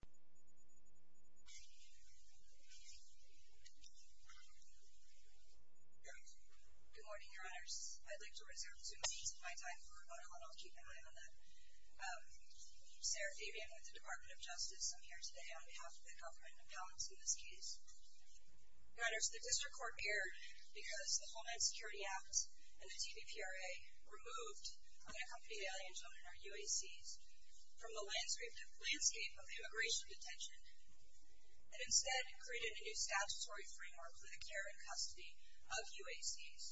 Good morning, Your Honors. I'd like to reserve two minutes of my time for a vote on a call, and I'll keep an eye on that. Sarah Fabian with the Department of Justice. I'm here today on behalf of the Government of Palos in this case. Your Honors, the District Court erred because the Homeland Security Act and the TBPRA removed unaccompanied alien children, or UACs, from the landscape of immigration detention, and instead created a new statutory framework for the care and custody of UACs.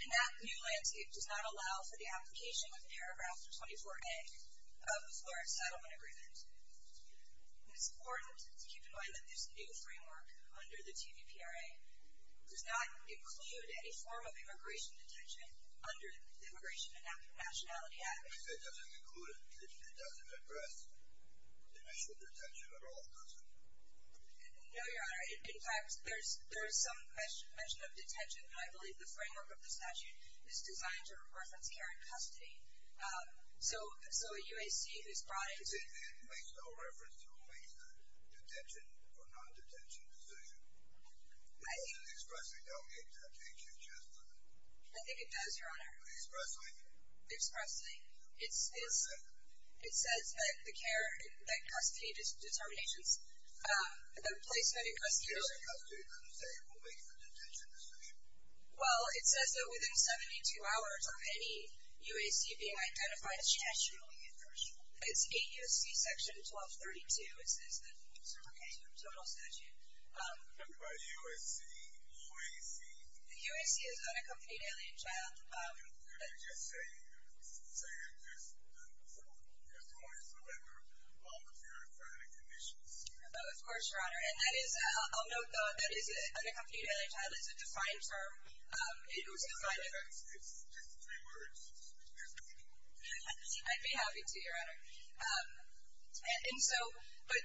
And that new landscape does not allow for the application with paragraph 24A of the Flores Settlement Agreement. It's important to keep in mind that this new framework under the TBPRA does not include any form of immigration detention under the Immigration and Nationality Act. It doesn't include it? It doesn't address immigration detention at all, does it? No, Your Honor. In fact, there is some mention of detention, and I believe the framework of the statute is designed to reference care and custody. So a UAC who is brought into… Does it then make no reference to who makes the detention or non-detention decision? I think… Does it expressly delegate that to HHS, does it? I think it does, Your Honor. Expressly? Expressly. What does it say? It says that the care and custody determinations, the placement and custody… The care and custody doesn't say who makes the detention decision? Well, it says that within 72 hours of any UAC being identified as detentionally incarcerated. It's 8 UAC section 1232. It says that it's okay to have a total statute. But UAC, OAC… UAC is unaccompanied alien child. You're just saying there's only surrender on the purifying conditions? Of course, Your Honor. And that is… I'll note that unaccompanied alien child is a defined term. It was defined… It's just three words. I'd be happy to, Your Honor. And so… But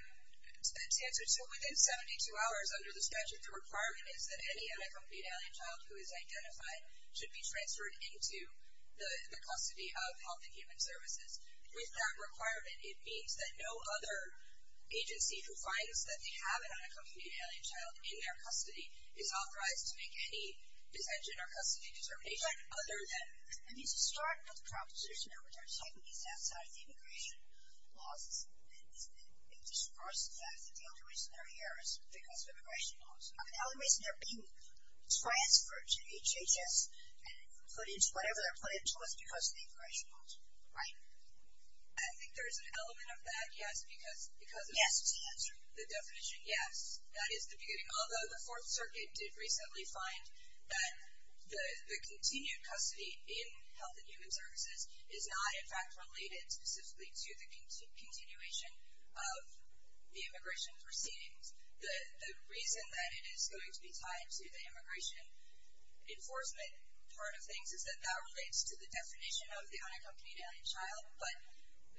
the answer to within 72 hours under the statute, the requirement is that any unaccompanied alien child who is identified should be transferred into the custody of Health and Human Services. With that requirement, it means that no other agency who finds that they have an unaccompanied alien child in their custody is authorized to make any detention or custody determination other than… It needs to start with the proposition that they're taking these outside of the immigration laws. It disperses the fact that the only reason they're here is because of immigration laws. The only reason they're being transferred to HHS and put into whatever they're put into is because of the immigration laws. Right. I think there's an element of that, yes, because… Yes. The definition, yes. That is the beginning. Although the Fourth Circuit did recently find that the continued custody in Health and Human Services is not, in fact, related specifically to the continuation of the immigration proceedings. The reason that it is going to be tied to the immigration enforcement part of things is that that relates to the definition of the unaccompanied alien child. But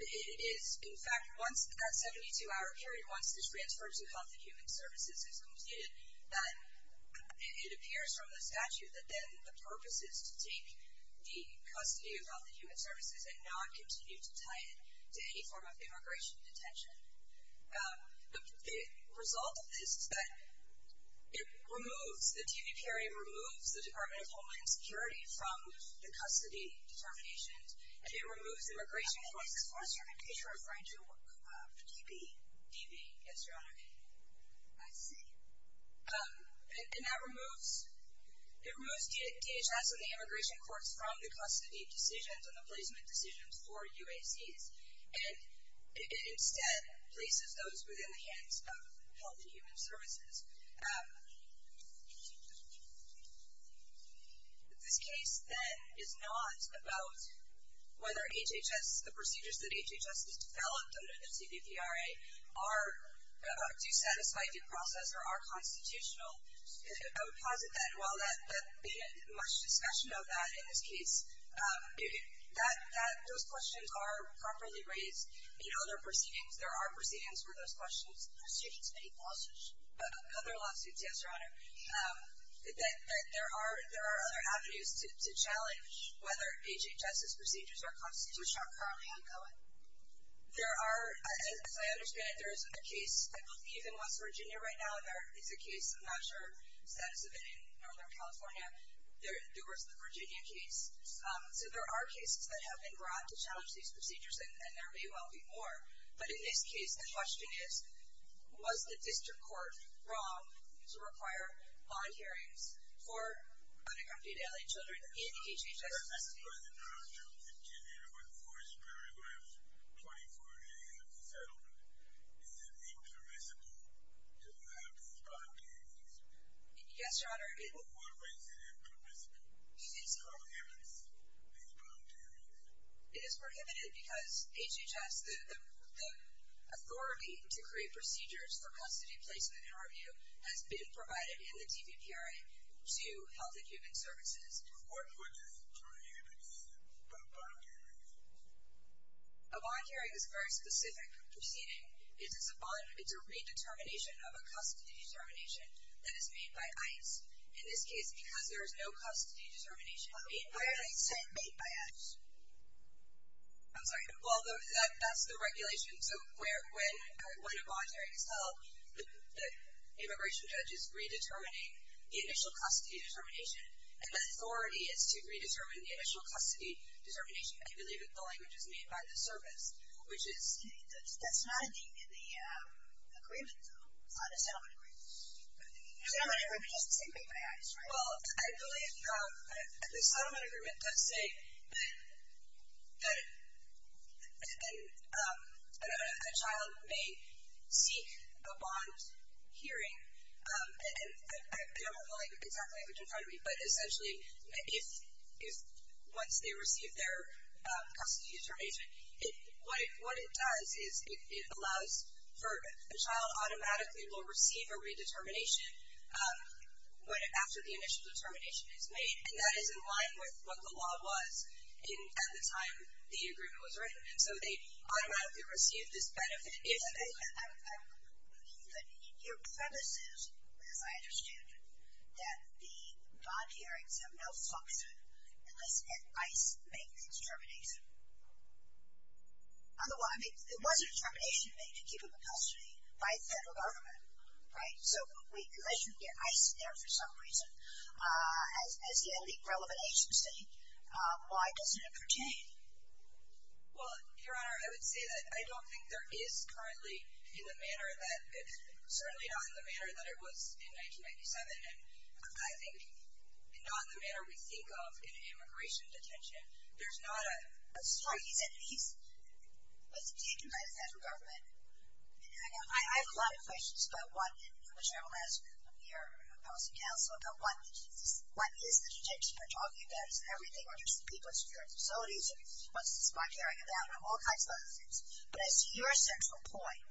it is, in fact, once that 72-hour period, once this transfer to Health and Human Services is completed, that it appears from the statute that then the purpose is to take the custody of Health and Human Services and not continue to tie it to any form of immigration detention. The result of this is that it removes, the DB period removes the Department of Homeland Security from the custody determinations, and it removes immigration courts. I'm sorry, I think you're referring to DB. DB, yes, Your Honor. I see. And that removes, it removes DHS and the immigration courts from the custody decisions and the placement decisions for UACs. And it instead places those within the hands of Health and Human Services. This case, then, is not about whether HHS, the procedures that HHS has developed under the CBPRA, do satisfy due process or are constitutional. I would posit that while there hasn't been much discussion of that in this case, those questions are properly raised in other proceedings. There are proceedings for those questions. Proceedings, many lawsuits. Other lawsuits, yes, Your Honor. There are other avenues to challenge whether HHS's procedures are constitutional. Which are currently ongoing. There are, as I understand it, there is a case, I believe, in West Virginia right now, and there is a case, I'm not sure of the status of it, in Northern California. There was the Virginia case. So there are cases that have been brought to challenge these procedures, and there may well be more. But in this case, the question is, was the district court wrong to require bond hearings for unaccompanied L.A. children in HHS custody? Was it wrong to continue to enforce paragraphs 24A of the settlement? Is it impermissible to have these bond hearings? Yes, Your Honor. But why is it impermissible? It is prohibited because HHS, the authority to create procedures for custody placement and review, has been provided in the CBPRA to Health and Human Services. What would prohibit a bond hearing? A bond hearing is a very specific proceeding. It's a redetermination of a custody determination that is made by ICE. In this case, because there is no custody determination made by ICE. Why is it not made by ICE? I'm sorry. Well, that's the regulation. So when a bond hearing is held, the immigration judge is redetermining the initial custody determination. And the authority is to redetermine the initial custody determination. I believe that the language is made by the service, which is... That's not in the agreement, though. It's not in the settlement agreement. The settlement agreement doesn't say made by ICE, right? Well, I believe the settlement agreement does say that a child may seek a bond hearing. I don't have the exact language in front of me. But essentially, once they receive their custody determination, what it does is it allows for... A child automatically will receive a redetermination after the initial determination is made. And that is in line with what the law was at the time the agreement was written. So they automatically receive this benefit if... Your premise is, as I understood, that the bond hearings have no function unless ICE makes a determination. Otherwise, it was a determination made to keep him in custody by the federal government, right? So unless you get ICE in there for some reason, as the only relevant agency, why doesn't it pertain? Well, Your Honor, I would say that I don't think there is currently in the manner that... Certainly not in the manner that it was in 1997. And I think not in the manner we think of in an immigration detention. There's not a... That's right. He said he was detained by the federal government. And I have a lot of questions about what... And I'm sure I will ask your policy counsel about what the... What is the detention you're talking about? Because everything relates to people in security facilities and what's this bond hearing about and all kinds of other things. But I see your central point,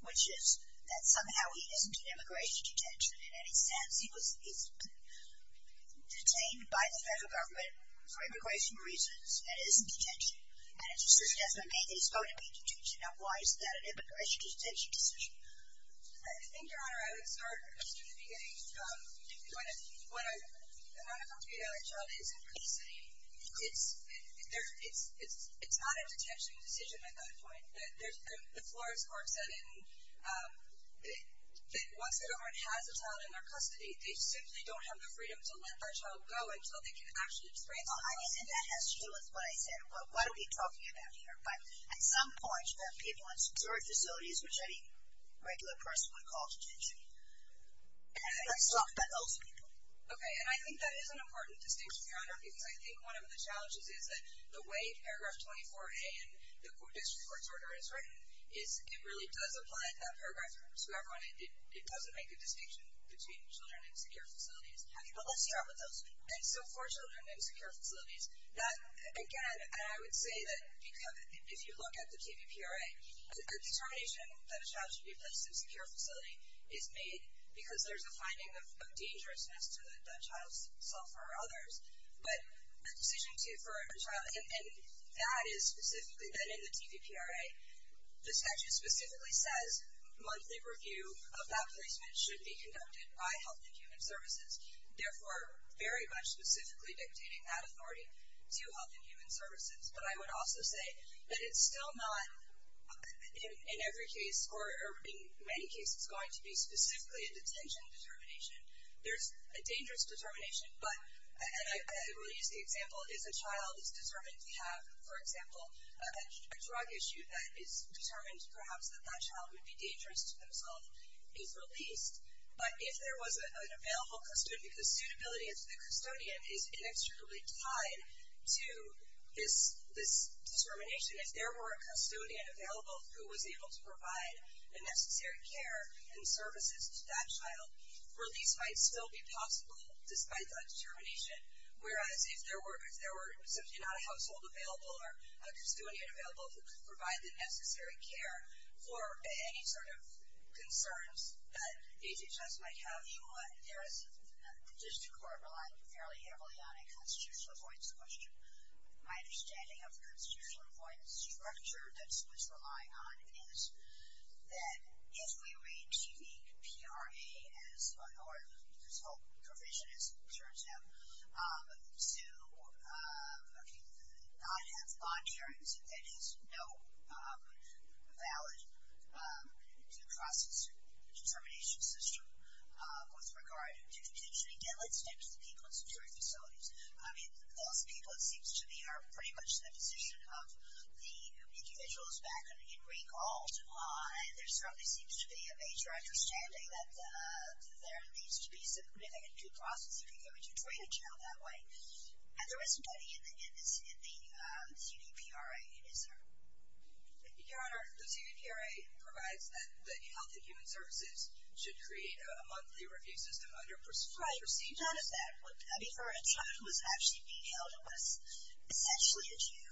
which is that somehow he isn't in immigration detention in any sense. He was detained by the federal government for immigration reasons and is in detention. And a decision has been made that he's going to be in detention. Now, why is that an immigration detention decision? I think, Your Honor, I would start at the beginning. When an unaccompanied adult child is in custody, it's not a detention decision at that point. The Florida's court said that once the government has a child in their custody, they simply don't have the freedom to let that child go until they can actually explain to the court. I mean, and that has to do with what I said. What are we talking about here? But at some point, people in security facilities, which any regular person would call detention. And let's talk about those people. Okay, and I think that is an important distinction, Your Honor, because I think one of the challenges is that the way paragraph 24A in the district court's order is written is it really does apply to that paragraph to everyone. It doesn't make a distinction between children in secure facilities. But let's start with those people. And so for children in secure facilities, that, again, and I would say that if you look at the KPPRA, the determination that a child should be placed in a secure facility is made because there's a finding of dangerousness to that child's self or others. But the decision for a child, and that is specifically then in the TPPRA, the statute specifically says monthly review of that placement should be conducted by Health and Human Services, therefore very much specifically dictating that authority to Health and Human Services. But I would also say that it's still not, in every case, or in many cases, going to be specifically a detention determination. There's a dangerous determination, but, and I will use the example, if a child is determined to have, for example, a drug issue that is determined, perhaps, that that child would be dangerous to themselves, is released. But if there was an available custodian, if the suitability of the custodian is inextricably tied to this determination, if there were a custodian available who was able to provide the necessary care and services to that child, release might still be possible despite that determination. Whereas if there were not a household available or a custodian available who could provide the necessary care for any sort of concerns that HHS might have, you would. There is, just to clarify fairly heavily on a constitutional avoidance question, my understanding of the constitutional avoidance structure that Swiss was relying on is that if we read TPPRA as, or this whole provision as it turns out, to not have bond hearings, it is no valid determination system with regard to detention. Again, let's step to the people in security facilities. I mean, those people, it seems to me, are pretty much in the position of the individuals back in recall. And there certainly seems to be a major understanding that there needs to be And there is money in the CDPRA, is there? Your Honor, the CDPRA provides that the Health and Human Services should create a monthly review system under prescribed procedures. Right, none of that. I mean, for a child who was actually being held and was essentially a Jew,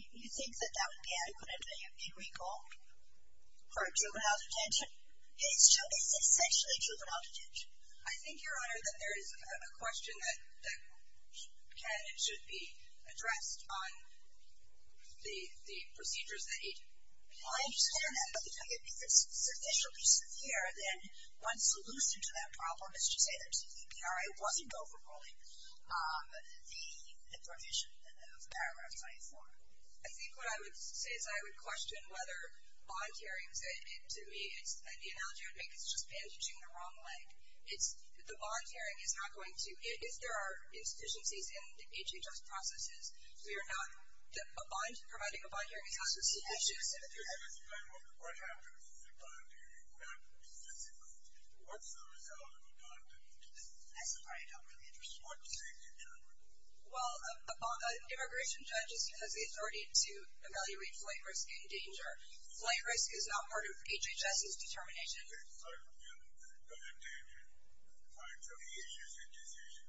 you think that that would be adequate in recall for a juvenile detention? It's essentially juvenile detention. I think, Your Honor, that there is a question that can and should be addressed on the procedures that need. Well, I understand that, but if it's sufficiently severe, then one solution to that problem is to say that CDPRA wasn't overruling the provision of paragraph 24. I think what I would say is I would question whether bond hearings, to me, the analogy I would make is just bandaging the wrong leg. The bond hearing is not going to, if there are insufficiencies in the HHS processes, we are not, providing a bond hearing is not going to solve the issue. What happens if a bond hearing happens? Let's see, what's the result of a bond hearing? I'm sorry, I don't really understand. What does that mean, Your Honor? Well, an immigration judge has the authority to evaluate flight risk and danger. Flight risk is not part of HHS's determination. Flight risk and danger are two issues in decision.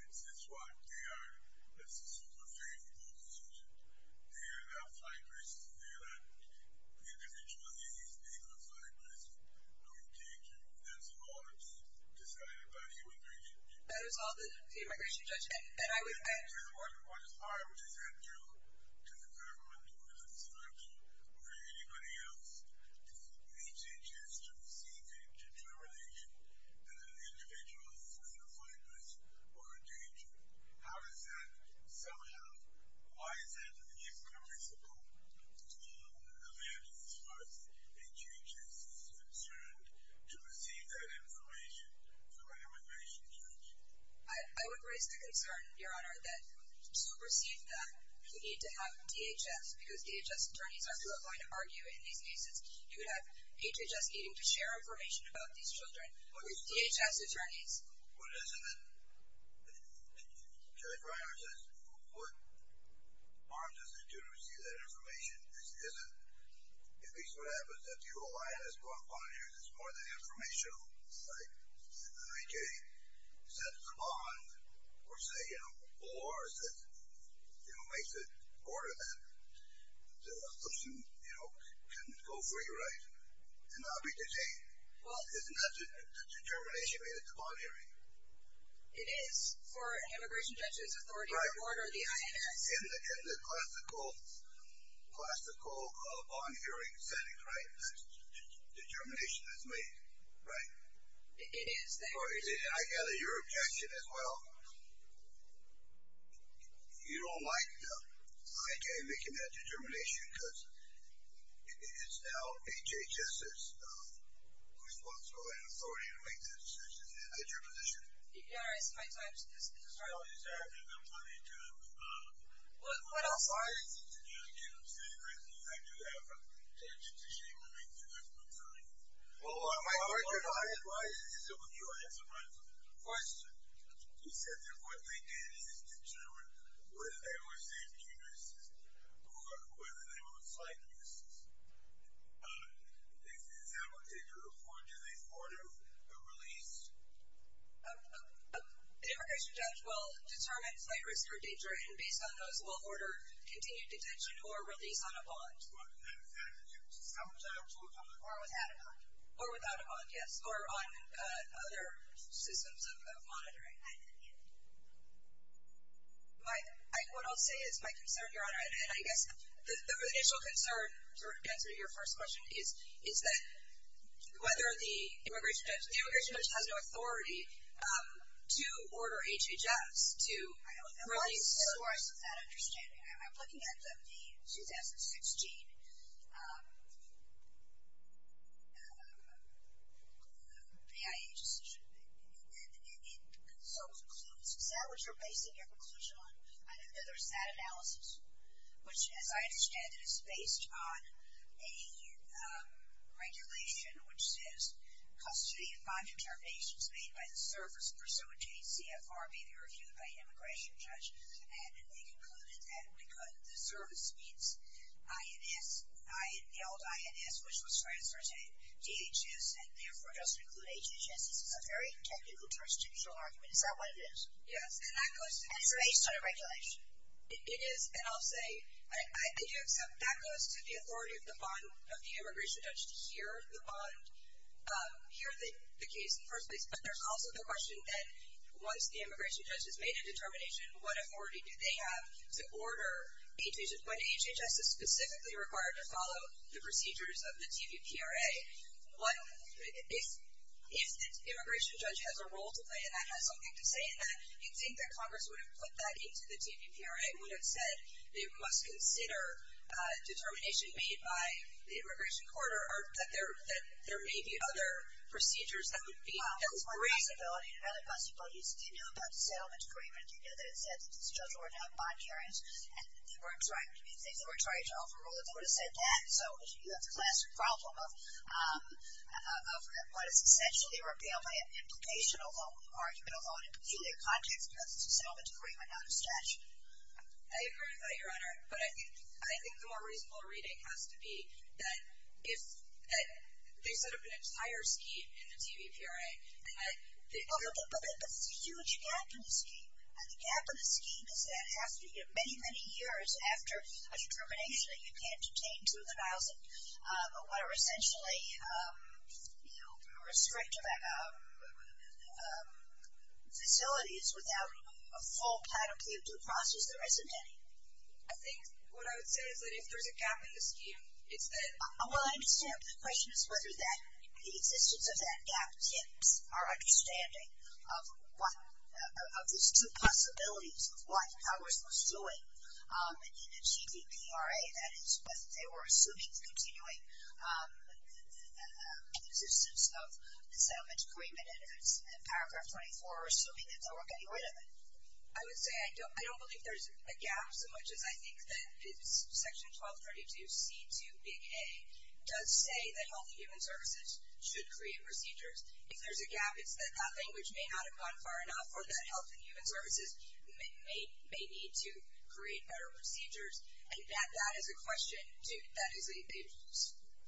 This is what they are. It's a super favorable decision. They are not flight risks. They are not individual things. They are not flight risks or danger. That's all that's decided by the immigration judge. That is all that the immigration judge, and I would… What is part of it? Is that due to the government or to the selection or to anybody else? If HHS is to receive a determination that an individual is in a flight risk or a danger, how is that somehow, why is that an irreversible event as far as HHS is concerned to receive that information from an immigration judge? I would raise the concern, Your Honor, that to receive that, you need to have DHS because DHS attorneys are who are going to argue in these cases. You would have HHS needing to share information about these children with DHS attorneys. Well, isn't it… Judge Reinhardt says, what harm does it do to receive that information? Isn't… At least what happens if the OI has a bond hearing, it's more than informational, right? If the IJ sets a bond or says, you know, or says, you know, makes a order then, the person, you know, can go free, right, and not be detained. Well, isn't that the determination made at the bond hearing? It is for an immigration judge's authority to order the INS. In the classical bond hearing setting, right, that determination is made, right? It is there. I gather your objection as well. You don't like the IJ making that determination because it is now HHS's responsibility and authority to make that decision. Is that your position? Yes, I'm sorry. No, I'm sorry. I think I'm pointing to… What else? Why is it that you can't say, I mean, I do have… Judge, it's a shame to make the judgment, sorry. Well, my question… Why is it so that you are answering my question? You said that what they did is determine whether they were safe keepers or whether they were flaggers. Is that what they do? Or do they order a release? The immigration judge will determine flaggers who are detained and, based on those, will order continued detention or release on a bond. What? Without a bond? Or without a bond, yes, or on other systems of monitoring. What I'll say is my concern, Your Honor, and I guess the initial concern, to answer your first question, is that whether the immigration judge has no authority to order HHS to release the source of that understanding. I'm looking at the 2016 BIA decision. So, is that what you're basing your conclusion on? I think that there's that analysis, which, as I understand it, is based on a regulation which says, custody of five determinations made by the service pursuant to a CFR may be reviewed by an immigration judge. And they concluded that the service meets INS, held INS, which was transferred to DHS and, therefore, does include HHS. This is a very technical, jurisdictional argument. Is that what it is? Yes. And it's based on a regulation? It is. And I'll say I do accept that goes to the authority of the immigration judge to hear the bond, hear the case in the first place. But there's also the question that once the immigration judge has made a determination, what authority do they have to order HHS? When HHS is specifically required to follow the procedures of the TVPRA, if the immigration judge has a role to play and that has something to say in that, you'd think that Congress would have put that into the TVPRA, that there may be other procedures that would be helpful. Well, that's one possibility. Another possibility is if you knew about the settlement agreement, you knew that it said that the judge wouldn't have bond hearings, and if they were trying to overrule it, they would have said that. So you have the classic problem of what is essentially a rebellion implication, although an argument, although in a peculiar context, because it's a settlement agreement, not a statute. I agree with that, Your Honor. But I think the more reasonable reading has to be that if they set up an entire scheme in the TVPRA. But there's a huge gap in the scheme, and the gap in the scheme is that it has to be many, many years after a determination that you can't obtain to the vials of what are essentially restrictive facilities without a full process that isn't any. I think what I would say is that if there's a gap in the scheme, it's that. Well, I understand. The question is whether the existence of that gap tips our understanding of these two possibilities of what Congress was doing in achieving PRA, that is, whether they were assuming the continuing existence of the settlement agreement, and if it's in paragraph 24, assuming that they were getting rid of it. I would say I don't believe there's a gap so much as I think that it's section 1232C2A does say that healthy human services should create procedures. If there's a gap, it's that that language may not have gone far enough or that healthy human services may need to create better procedures. And that is a question that is a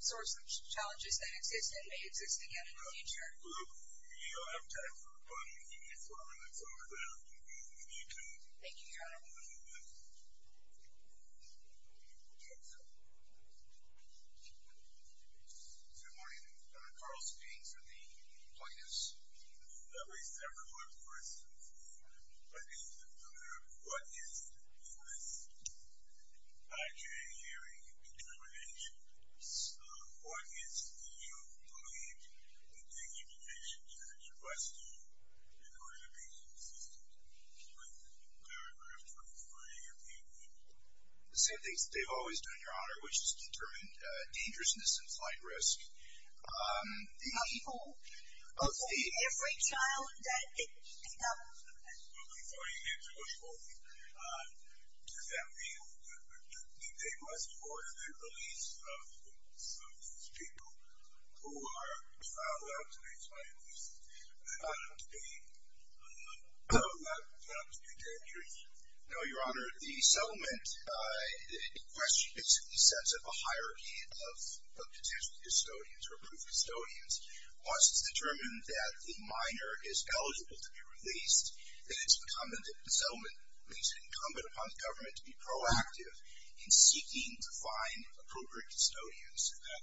source of challenges that exist and may exist again in the future. All right. Well, we don't have time for questions, so I'm going to turn it back over to you two. Thank you. Good morning. Carl Speaks of the plaintiffs. I raised that before, for instance. My name is William Miller. What is the U.S. IJ hearing determination? What is the U.S. IJ hearing determination in order to be consistent with paragraph 24A of the agreement? The same things that they've always done, Your Honor, which is determine dangerousness and flight risk. The people of every child that it becomes. Before you get to those folks, does that mean that they must afford the release of some of these people who are filed out to be flight invoices? Not to be dangerous? No, Your Honor. The settlement, in question, is in the sense of a hierarchy of potential custodians or approved custodians. Once it's determined that the minor is eligible to be released, then it's incumbent upon the government to be proactive in seeking to find appropriate custodians. Is that an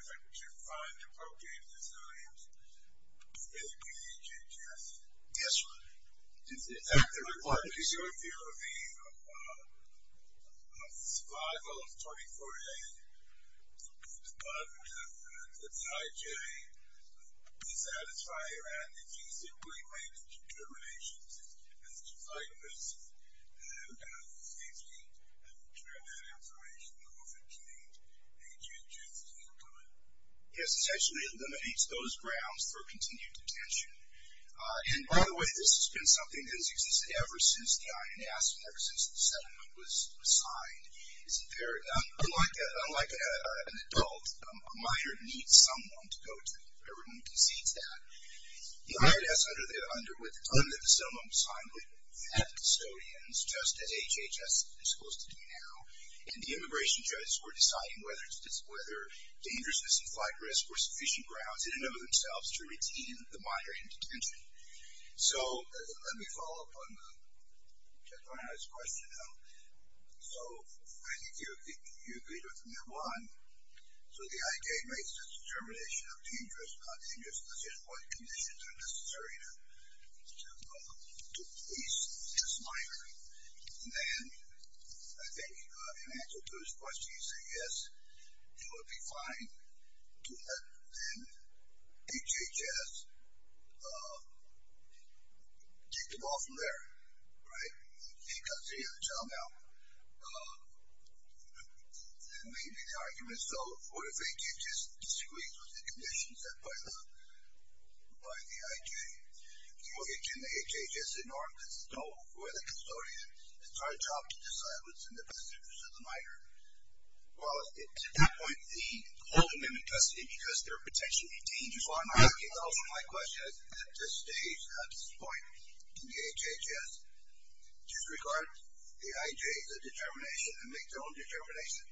effort to find appropriate custodians for the PHHS? Yes, Your Honor. Is your view of the survival of 24A, the IJ, dissatisfy around if you simply make determinations as to flight risk and safety, and determine that information in order to maintain agency in the government? Yes, it essentially eliminates those grounds for continued detention. And, by the way, this has been something that has existed ever since the INS work, since the settlement was signed. Unlike an adult, a minor needs someone to go to if everyone concedes that. The INS, under the settlement was signed, had custodians just as HHS is supposed to do now. And the immigration judges were deciding whether dangerousness and flight risk were sufficient grounds, and they know themselves to retain the minor in detention. So, let me follow up on the judge's question, though. So, I think you agreed with me on one. So, the IJ makes a determination of dangerousness, not dangerousness, just what conditions are necessary to police this minor. And then, I think in answer to his question, you say yes, it would be fine to have, then, HHS take the ball from there, right? I think I see a turnout. Maybe the argument is, though, what if HHS disagrees with the conditions set by the IJ? Can the HHS ignore this? No. Who are the custodians? It's our job to decide what's in the best interest of the minor. Well, at that point, the Old Amendment custody, because they're potentially dangerous, My question is, at this stage, at this point, can the HHS disregard the IJ's determination and make their own determination?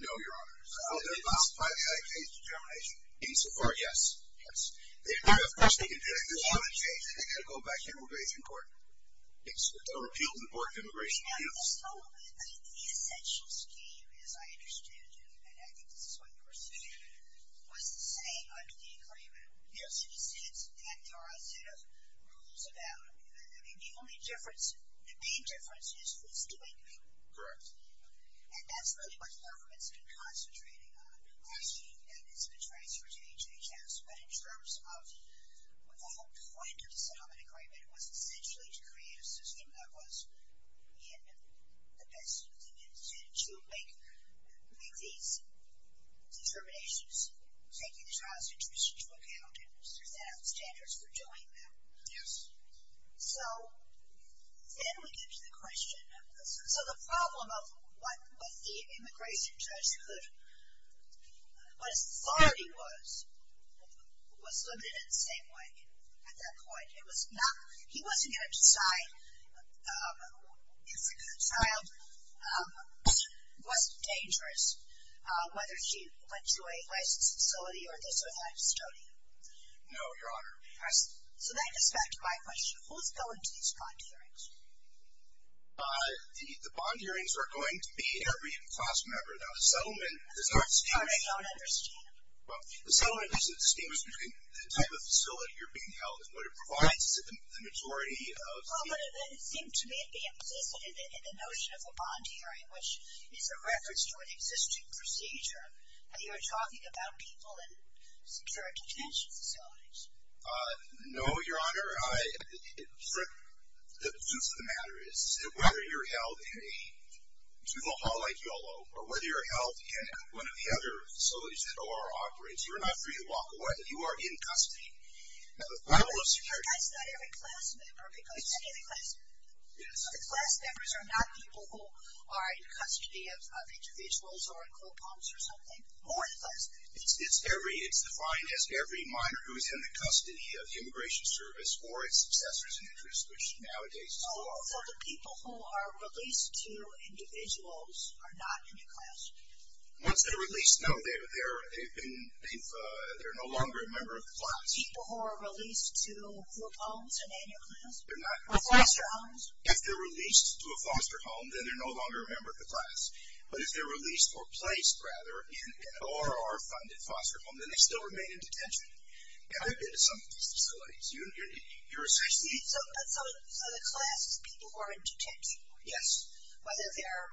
No, Your Honor. So, how do they justify the IJ's determination? In support, yes. Of course, they can do that. There's no other change. They've got to go back to immigration court. It's a repeal of the Board of Immigration Appeals. Let's follow up. The essential scheme, as I understand it, and I think this is what you were saying, was to say under the agreement, there's a set of rules about, I mean, the only difference, the main difference is who's doing who. Correct. And that's really what the government's been concentrating on, the scheme that has been transferred to HHS. But in terms of the whole point of the settlement agreement was essentially to create a system that was in the best interest to make these determinations, taking the child's interests into account and setting up standards for doing that. Yes. So, then we get to the question of this. So, the problem of what the immigration judge could, what his authority was, was limited in the same way at that point. It was not, he wasn't going to decide, if the child was dangerous, whether he went to a licensed facility or this or that custodian. No, Your Honor. So, that gets back to my question. Who's going to these bond hearings? The bond hearings are going to be every class member. Now, the settlement does not distinguish. Sorry, I don't understand. Well, the settlement does distinguish between the type of facility you're being held and what it provides to the majority of people. Well, but it seemed to me it'd be implicit in the notion of a bond hearing, which is a reference to an existing procedure. You were talking about people in secure detention facilities. No, Your Honor. The truth of the matter is, whether you're held in a juvenile hall like Yolo or whether you're held in one of the other facilities that OR operates, you are not free to walk away. You are in custody. Your Honor, that's not every class member. Excuse me. The class members are not people who are in custody of individuals or in coat pumps or something. More than that. It's defined as every minor who is in the custody of the Immigration Service or its successors in interest, which nowadays is four. So, the people who are released to individuals are not in the class? Once they're released, no, they're no longer a member of the class. People who are released to group homes are not in your class? They're not. Or foster homes? If they're released to a foster home, then they're no longer a member of the class. But if they're released or placed, rather, in an OR-funded foster home, then they still remain in detention. And they've been to some of these facilities. So, the class is people who are in detention. Yes. Whether they're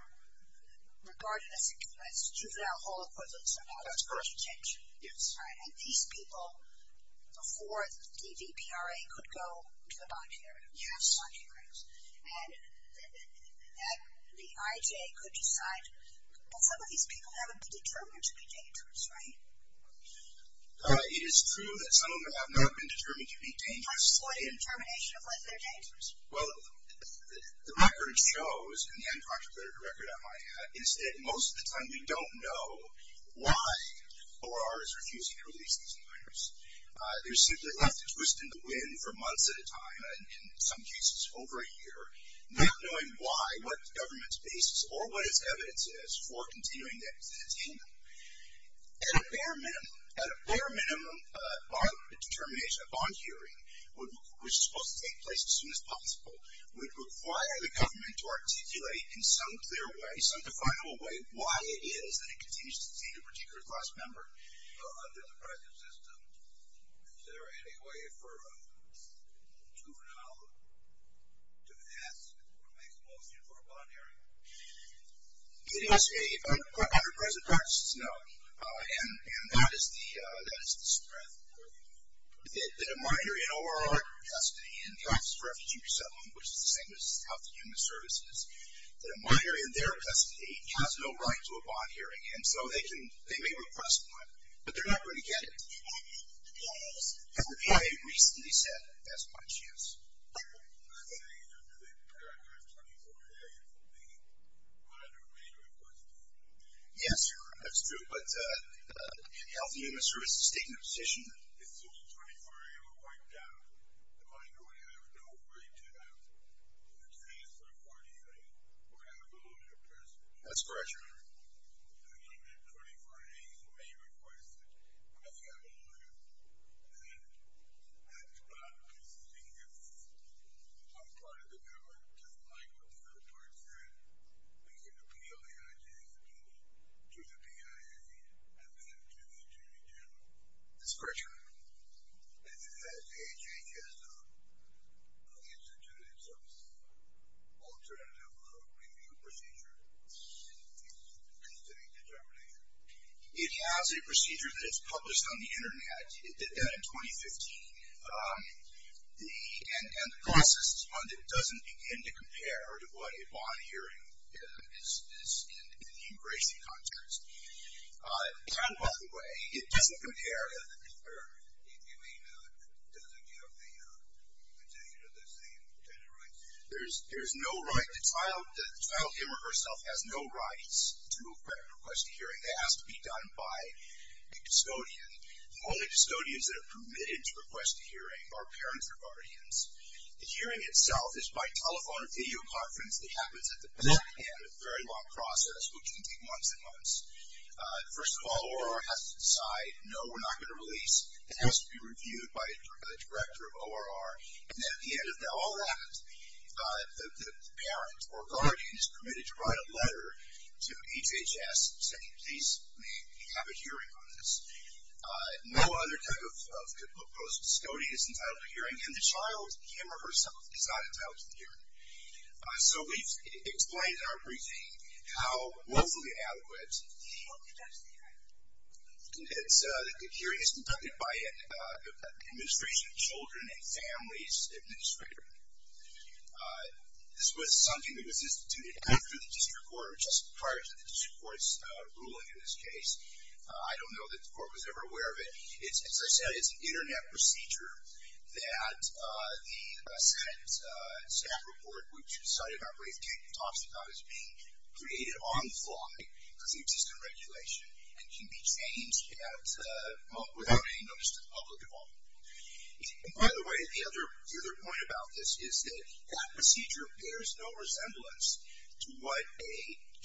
regarded as a juvenile hall equivalent somehow. That's correct. That's detention. Yes. That's right. And these people, before the DVPRA, could go to the bond hearings. Yes. Bond hearings. And then the IJ could decide that some of these people haven't been determined to be dangerous, right? It is true that some of them have not been determined to be dangerous. What determination of whether they're dangerous? Well, the record shows, and Dan talked about it in the record, most of the time we don't know why OR is refusing to release these minors. They're simply left to twist in the wind for months at a time, and in some cases over a year, not knowing why, what the government's basis or what its evidence is for continuing to detain them. At a bare minimum, a bond determination, a bond hearing, which is supposed to take place as soon as possible, would require the government to articulate in some clear way, some definable way, why it is that it continues to detain a particular class member under the present system. Is there any way for a juvenile to pass or make a motion for a bond hearing? It must be under present practice. No. And that is the threat. That a minor in OR or custody in the Office of Refugee Resettlement, which is the same as Health and Human Services, that a minor in their custody has no right to a bond hearing, and so they may request one, but they're not going to get it. And the VA recently said that's by chance. I'm not saying under the paragraph 24A, if a minor may request a bond hearing. Yes, that's true, but Health and Human Services is taking a position. As soon as 24A were wiped out, the minority would have no right to have a chance for a bond hearing or have a loan to a person. That's correct, Your Honor. And even if 24A may request it, if you have a loan, then that's about the same as one part of the government. Just like with the third-part threat, we can appeal the IJA's opinion to the BIA and then to the Attorney General. That's correct, Your Honor. And has the IJA just instituted some alternative review procedure in considering determination? It has a procedure that is published on the Internet. It did that in 2015. And the process is one that doesn't begin to compare to what a bond hearing is in the immigration context. And, by the way, it doesn't compare. You mean it doesn't have the same intended rights? There's no right. The child him or herself has no rights to request a hearing. That has to be done by a custodian. The only custodians that are permitted to request a hearing are parents or guardians. The hearing itself is by telephone or videoconference. It happens at the parent end, a very long process, which can take months and months. First of all, ORR has to decide, no, we're not going to release. It has to be reviewed by the director of ORR. And at the end of all that, the parent or guardian is permitted to write a letter to HHS saying, please have a hearing on this. No other type of post-custody is entitled to hearing. And the child him or herself is not entitled to the hearing. So we've explained in our briefing how woefully adequate the hearing is conducted by an administration of children and families administrator. This was something that was instituted after the district court or just prior to the district court's ruling in this case. I don't know that the court was ever aware of it. As I said, it's an internet procedure that the staff report, which decided not to release the child is being created on the fly because of the existing regulation and can be changed without any notice to the public at all. By the way, the other point about this is that that procedure bears no resemblance to what a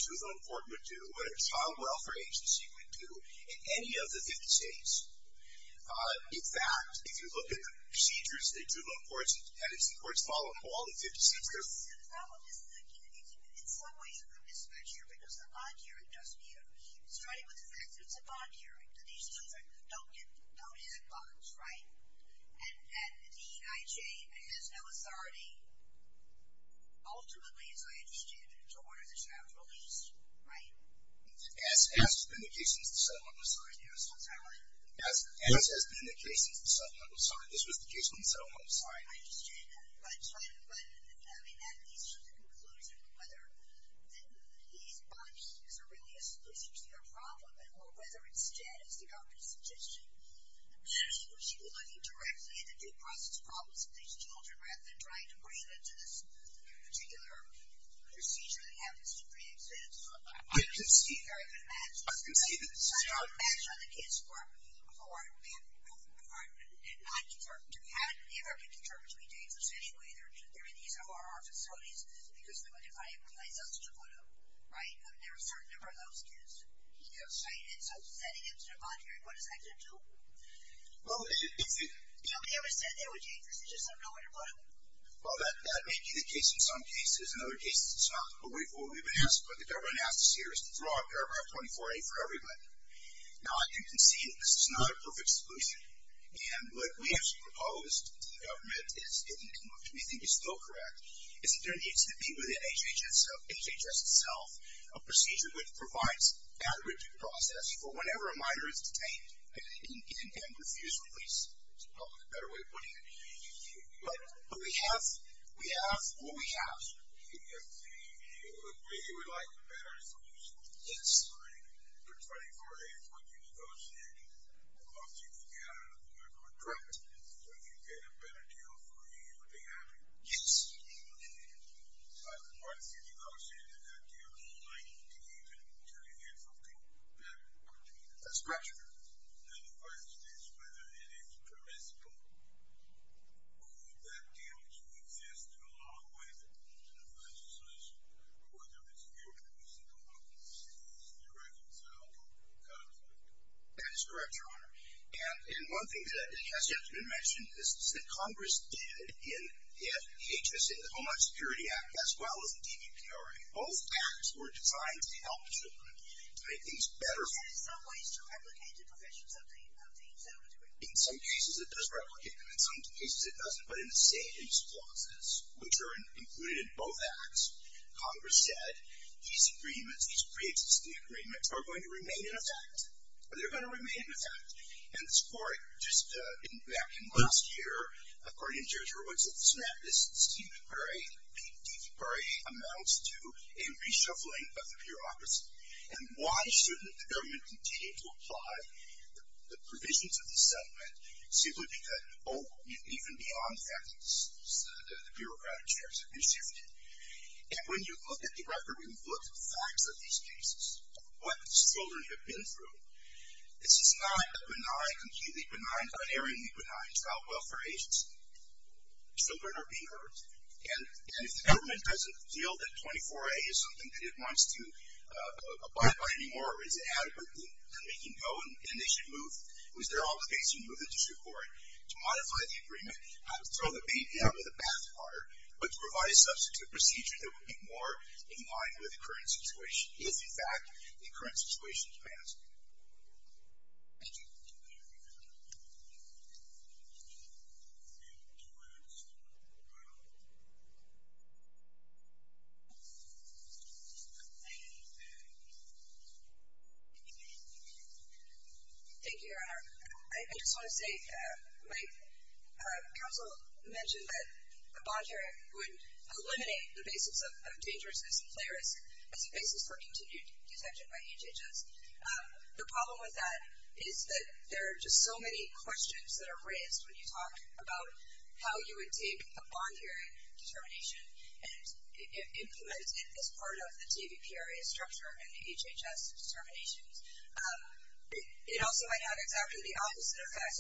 juvenile court would do, what a child welfare agency would do, in any of the 50 states. In fact, if you look at the procedures of the juvenile courts, that is, the courts follow all the 50 states. In some ways, it's a mismatch here because the bond hearing doesn't either. Starting with the fact that it's a bond hearing, that these children don't have bonds, right? And that the DEIJ has no authority, ultimately, as I understand it, to order the child released, right? As has been the case since the settlement was signed. As has been the case since the settlement was signed. This was the case when the settlement was signed. I understand that. But, I mean, that leads to the conclusion of whether these bonds is really a solution to their problem or whether instead, as the doctor suggested, we should be looking directly at the due process problems of these children rather than trying to bring them to this particular procedure that happens to be in existence. I can see that. I can imagine. I can see that. So, I don't imagine that the kids who are in the juvenile court did not defer to having the American Determined to be Dangerous. Anyway, they're in these ORR facilities because they were defined by Justice DePuto, right? I mean, there were a certain number of those kids. Yes. And so, sending them to their bond hearing, what is that going to do? Well, it's the… Nobody ever said they were dangerous. They just don't know where to put them. Well, that may be the case in some cases. In other cases, it's not. But what we've been asked, what the government asked us here, is to draw up Paragraph 24A for everybody. Now, I think you can see that this is not a perfect solution. And what we have proposed to the government is getting it moved. We think it's still correct. It's that there needs to be within HHS itself a procedure which provides that review process for whenever a minor is detained and refused release. That's probably a better way of putting it. But we have what we have. You would like a better solution? Yes. All right. For 24A, once you negotiate, once you get a contract, would you get a better deal for me, would be happy? Yes. Okay. Once you negotiate that deal, do you need to get something better for me? That's correct, Your Honor. And the question is whether it is permissible. Would that deal to exist in a law way that provides a solution, whether it's here in the state of Omaha, in the state of New York, in Seattle, or California? That is correct, Your Honor. And one thing that has yet to be mentioned is that Congress did, in the HHS, the Omaha Security Act, as well as the DVPRA, both acts were designed to help children, to make things better for them. Is there some ways to replicate the professions of these individuals? In some cases, it does replicate them. In some cases, it doesn't. But in the state use clauses, which are included in both acts, Congress said these agreements, these pre-existing agreements, are going to remain in effect. They're going to remain in effect. And it's for it. Just back in last year, according to Judge Roberts, it's not just the DVPRA. The DVPRA amounts to a reshuffling of the bureaucracy. And why shouldn't the government continue to apply the provisions of the settlement simply because, oh, even beyond that, the bureaucratic shares have been shifted? And when you look at the record, when you look at the facts of these cases, what children have been through, this is not a benign, completely benign, unerringly benign, child welfare agency. Children are being hurt. And if the government doesn't feel that 24A is something that it wants to abide by anymore or is adequate in making go and they should move, is there an obligation to move the district court to modify the agreement, not to throw the baby out of the bathwater, but to provide a substitute procedure that would be more in line with the current situation if, in fact, the current situation is passed? Thank you. Thank you, Your Honor. I just want to say my counsel mentioned that a bond share would eliminate the basis for continued detention by HHS. The problem with that is that there are just so many questions that are raised when you talk about how you would take a bond sharing determination and implement it as part of the TVPRA structure and the HHS determinations. It also might have exactly the opposite effect.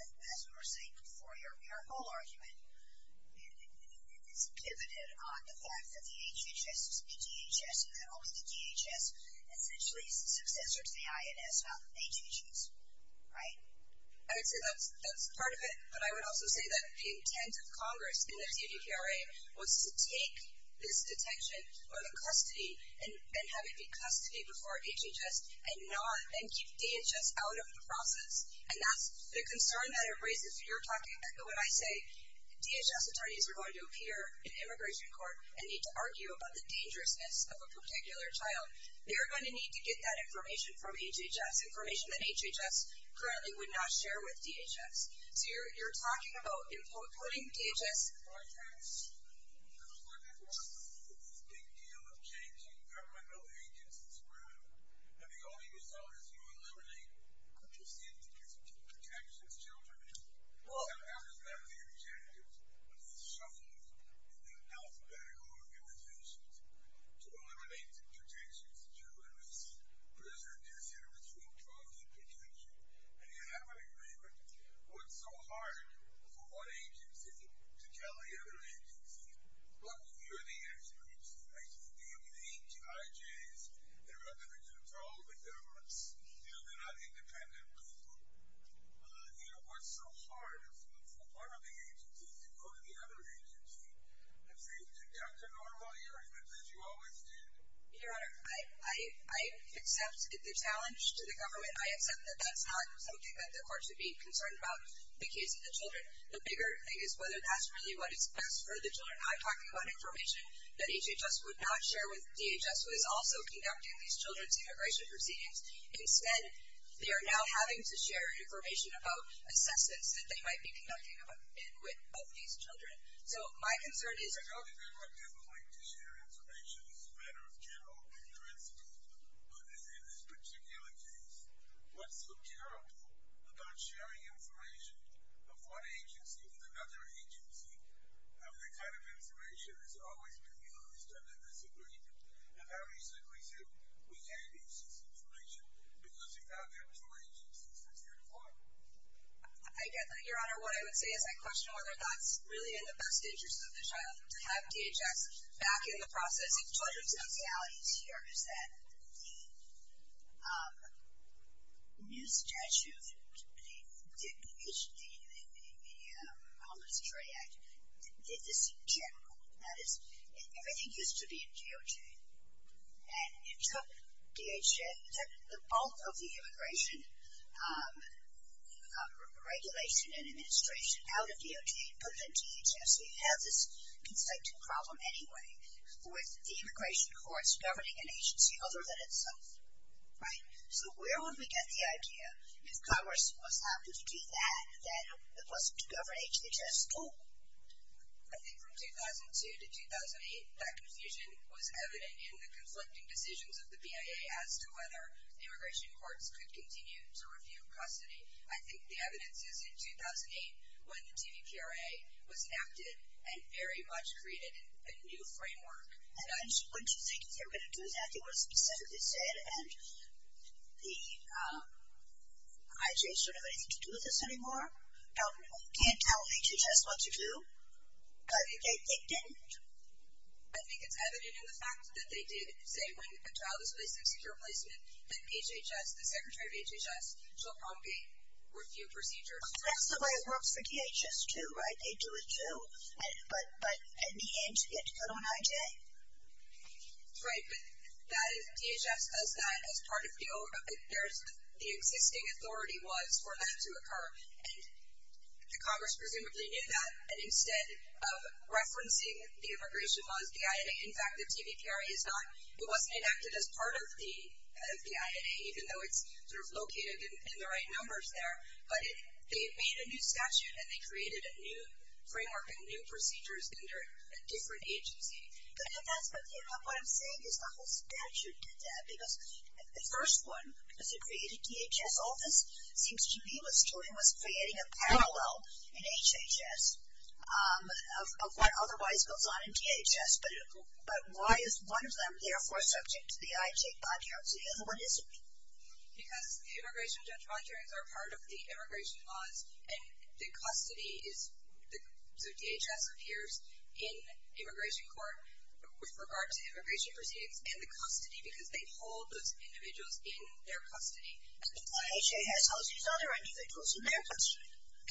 As we were saying before, your whole argument is pivoted on the fact that the DHS essentially is the successor to the INS, not the HHS, right? I would say that's part of it, but I would also say that the intent of Congress in the TVPRA was to take this detention or the custody and have it be custody before HHS and not then keep DHS out of the process. And that's the concern that it raises when you're talking, when I say DHS attorneys are going to appear in immigration court and need to get that information from HHS, information that HHS currently would not share with DHS. So you're talking about including DHS. Well, when you're the agency, what's so hard for one of the agencies to go to the other agency and say, Dr. Norma, you were here, you always did. Your honor. I accept the challenge to the government. I accept that that's not something that the court should be concerned about. The case of the children, the bigger thing is whether that's really what is best for the children. I'm talking about information that HHS would not share with DHS, who is also conducting these children's immigration proceedings. Instead, they are now having to share information about assessments that they might be conducting with these children. So my concern is the government doesn't like to share information. It's a matter of general principle. But in this particular case, what's so terrible about sharing information of one agency with another agency, the kind of information that's always been used under disagreement? And how easily is it we can't use this information? Because if not, there are more agencies that's here to follow. I get that, your honor. What I would say is I question whether that's really in the best interest of the child to have DHS back in the process. One of the realities here is that the new statute, the Homeless Trade Act, is general. That is, everything used to be in DOJ. And it took the bulk of the immigration regulation and administration out of DOJ and put it in DHS. So you have this conflicting problem anyway with the immigration courts governing an agency other than itself. Right? So where would we get the idea if Congress was happy to do that, that it wasn't to govern DHS at all? I think from 2002 to 2008, that confusion was evident in the conflicting decisions of the BIA as to whether the immigration courts could continue to review custody. I think the evidence is in 2008 when the TVPRA was enacted and very much created a new framework. And wouldn't you think if they were going to do that, they would have specifically said, and the IJs don't have anything to do with this anymore, can't tell DHS what to do. But they didn't. I think it's evident in the fact that they did say when a child is placed in secure placement that DHS, the secretary of DHS, shall prompt a review procedure. That's the way it works for DHS too, right? They do it too. But in the end, you get to put on IJ. That's right. But DHS does that as part of the existing authority was for that to occur. And the Congress presumably knew that. And instead of referencing the immigration laws, the INA, in fact, the TVPRA is not. It wasn't enacted as part of the INA, even though it's sort of located in the right numbers there. But they made a new statute and they created a new framework and new procedures under a different agency. But that's what I'm saying is the whole statute did that. Because the first one, because it created DHS, all this seems to me was creating a parallel in HHS of what otherwise goes on in DHS. But why is one of them therefore subject to the IJ bond guarantee? Because the immigration bond guarantees are part of the immigration laws and the custody, the DHS appears in immigration court with regard to immigration proceedings and the custody because they hold those individuals in their custody. HHS holds these other individuals in their custody. And HHS has been charged with developing procedures to provide for a civil court, okay? I'm going to take my time to thank you all for being part of this. I really appreciate it. Thank you. I appreciate you all for being here today. I hope you have a good experience. I hope you take any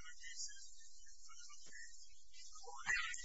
other cases and other updates. Thank you.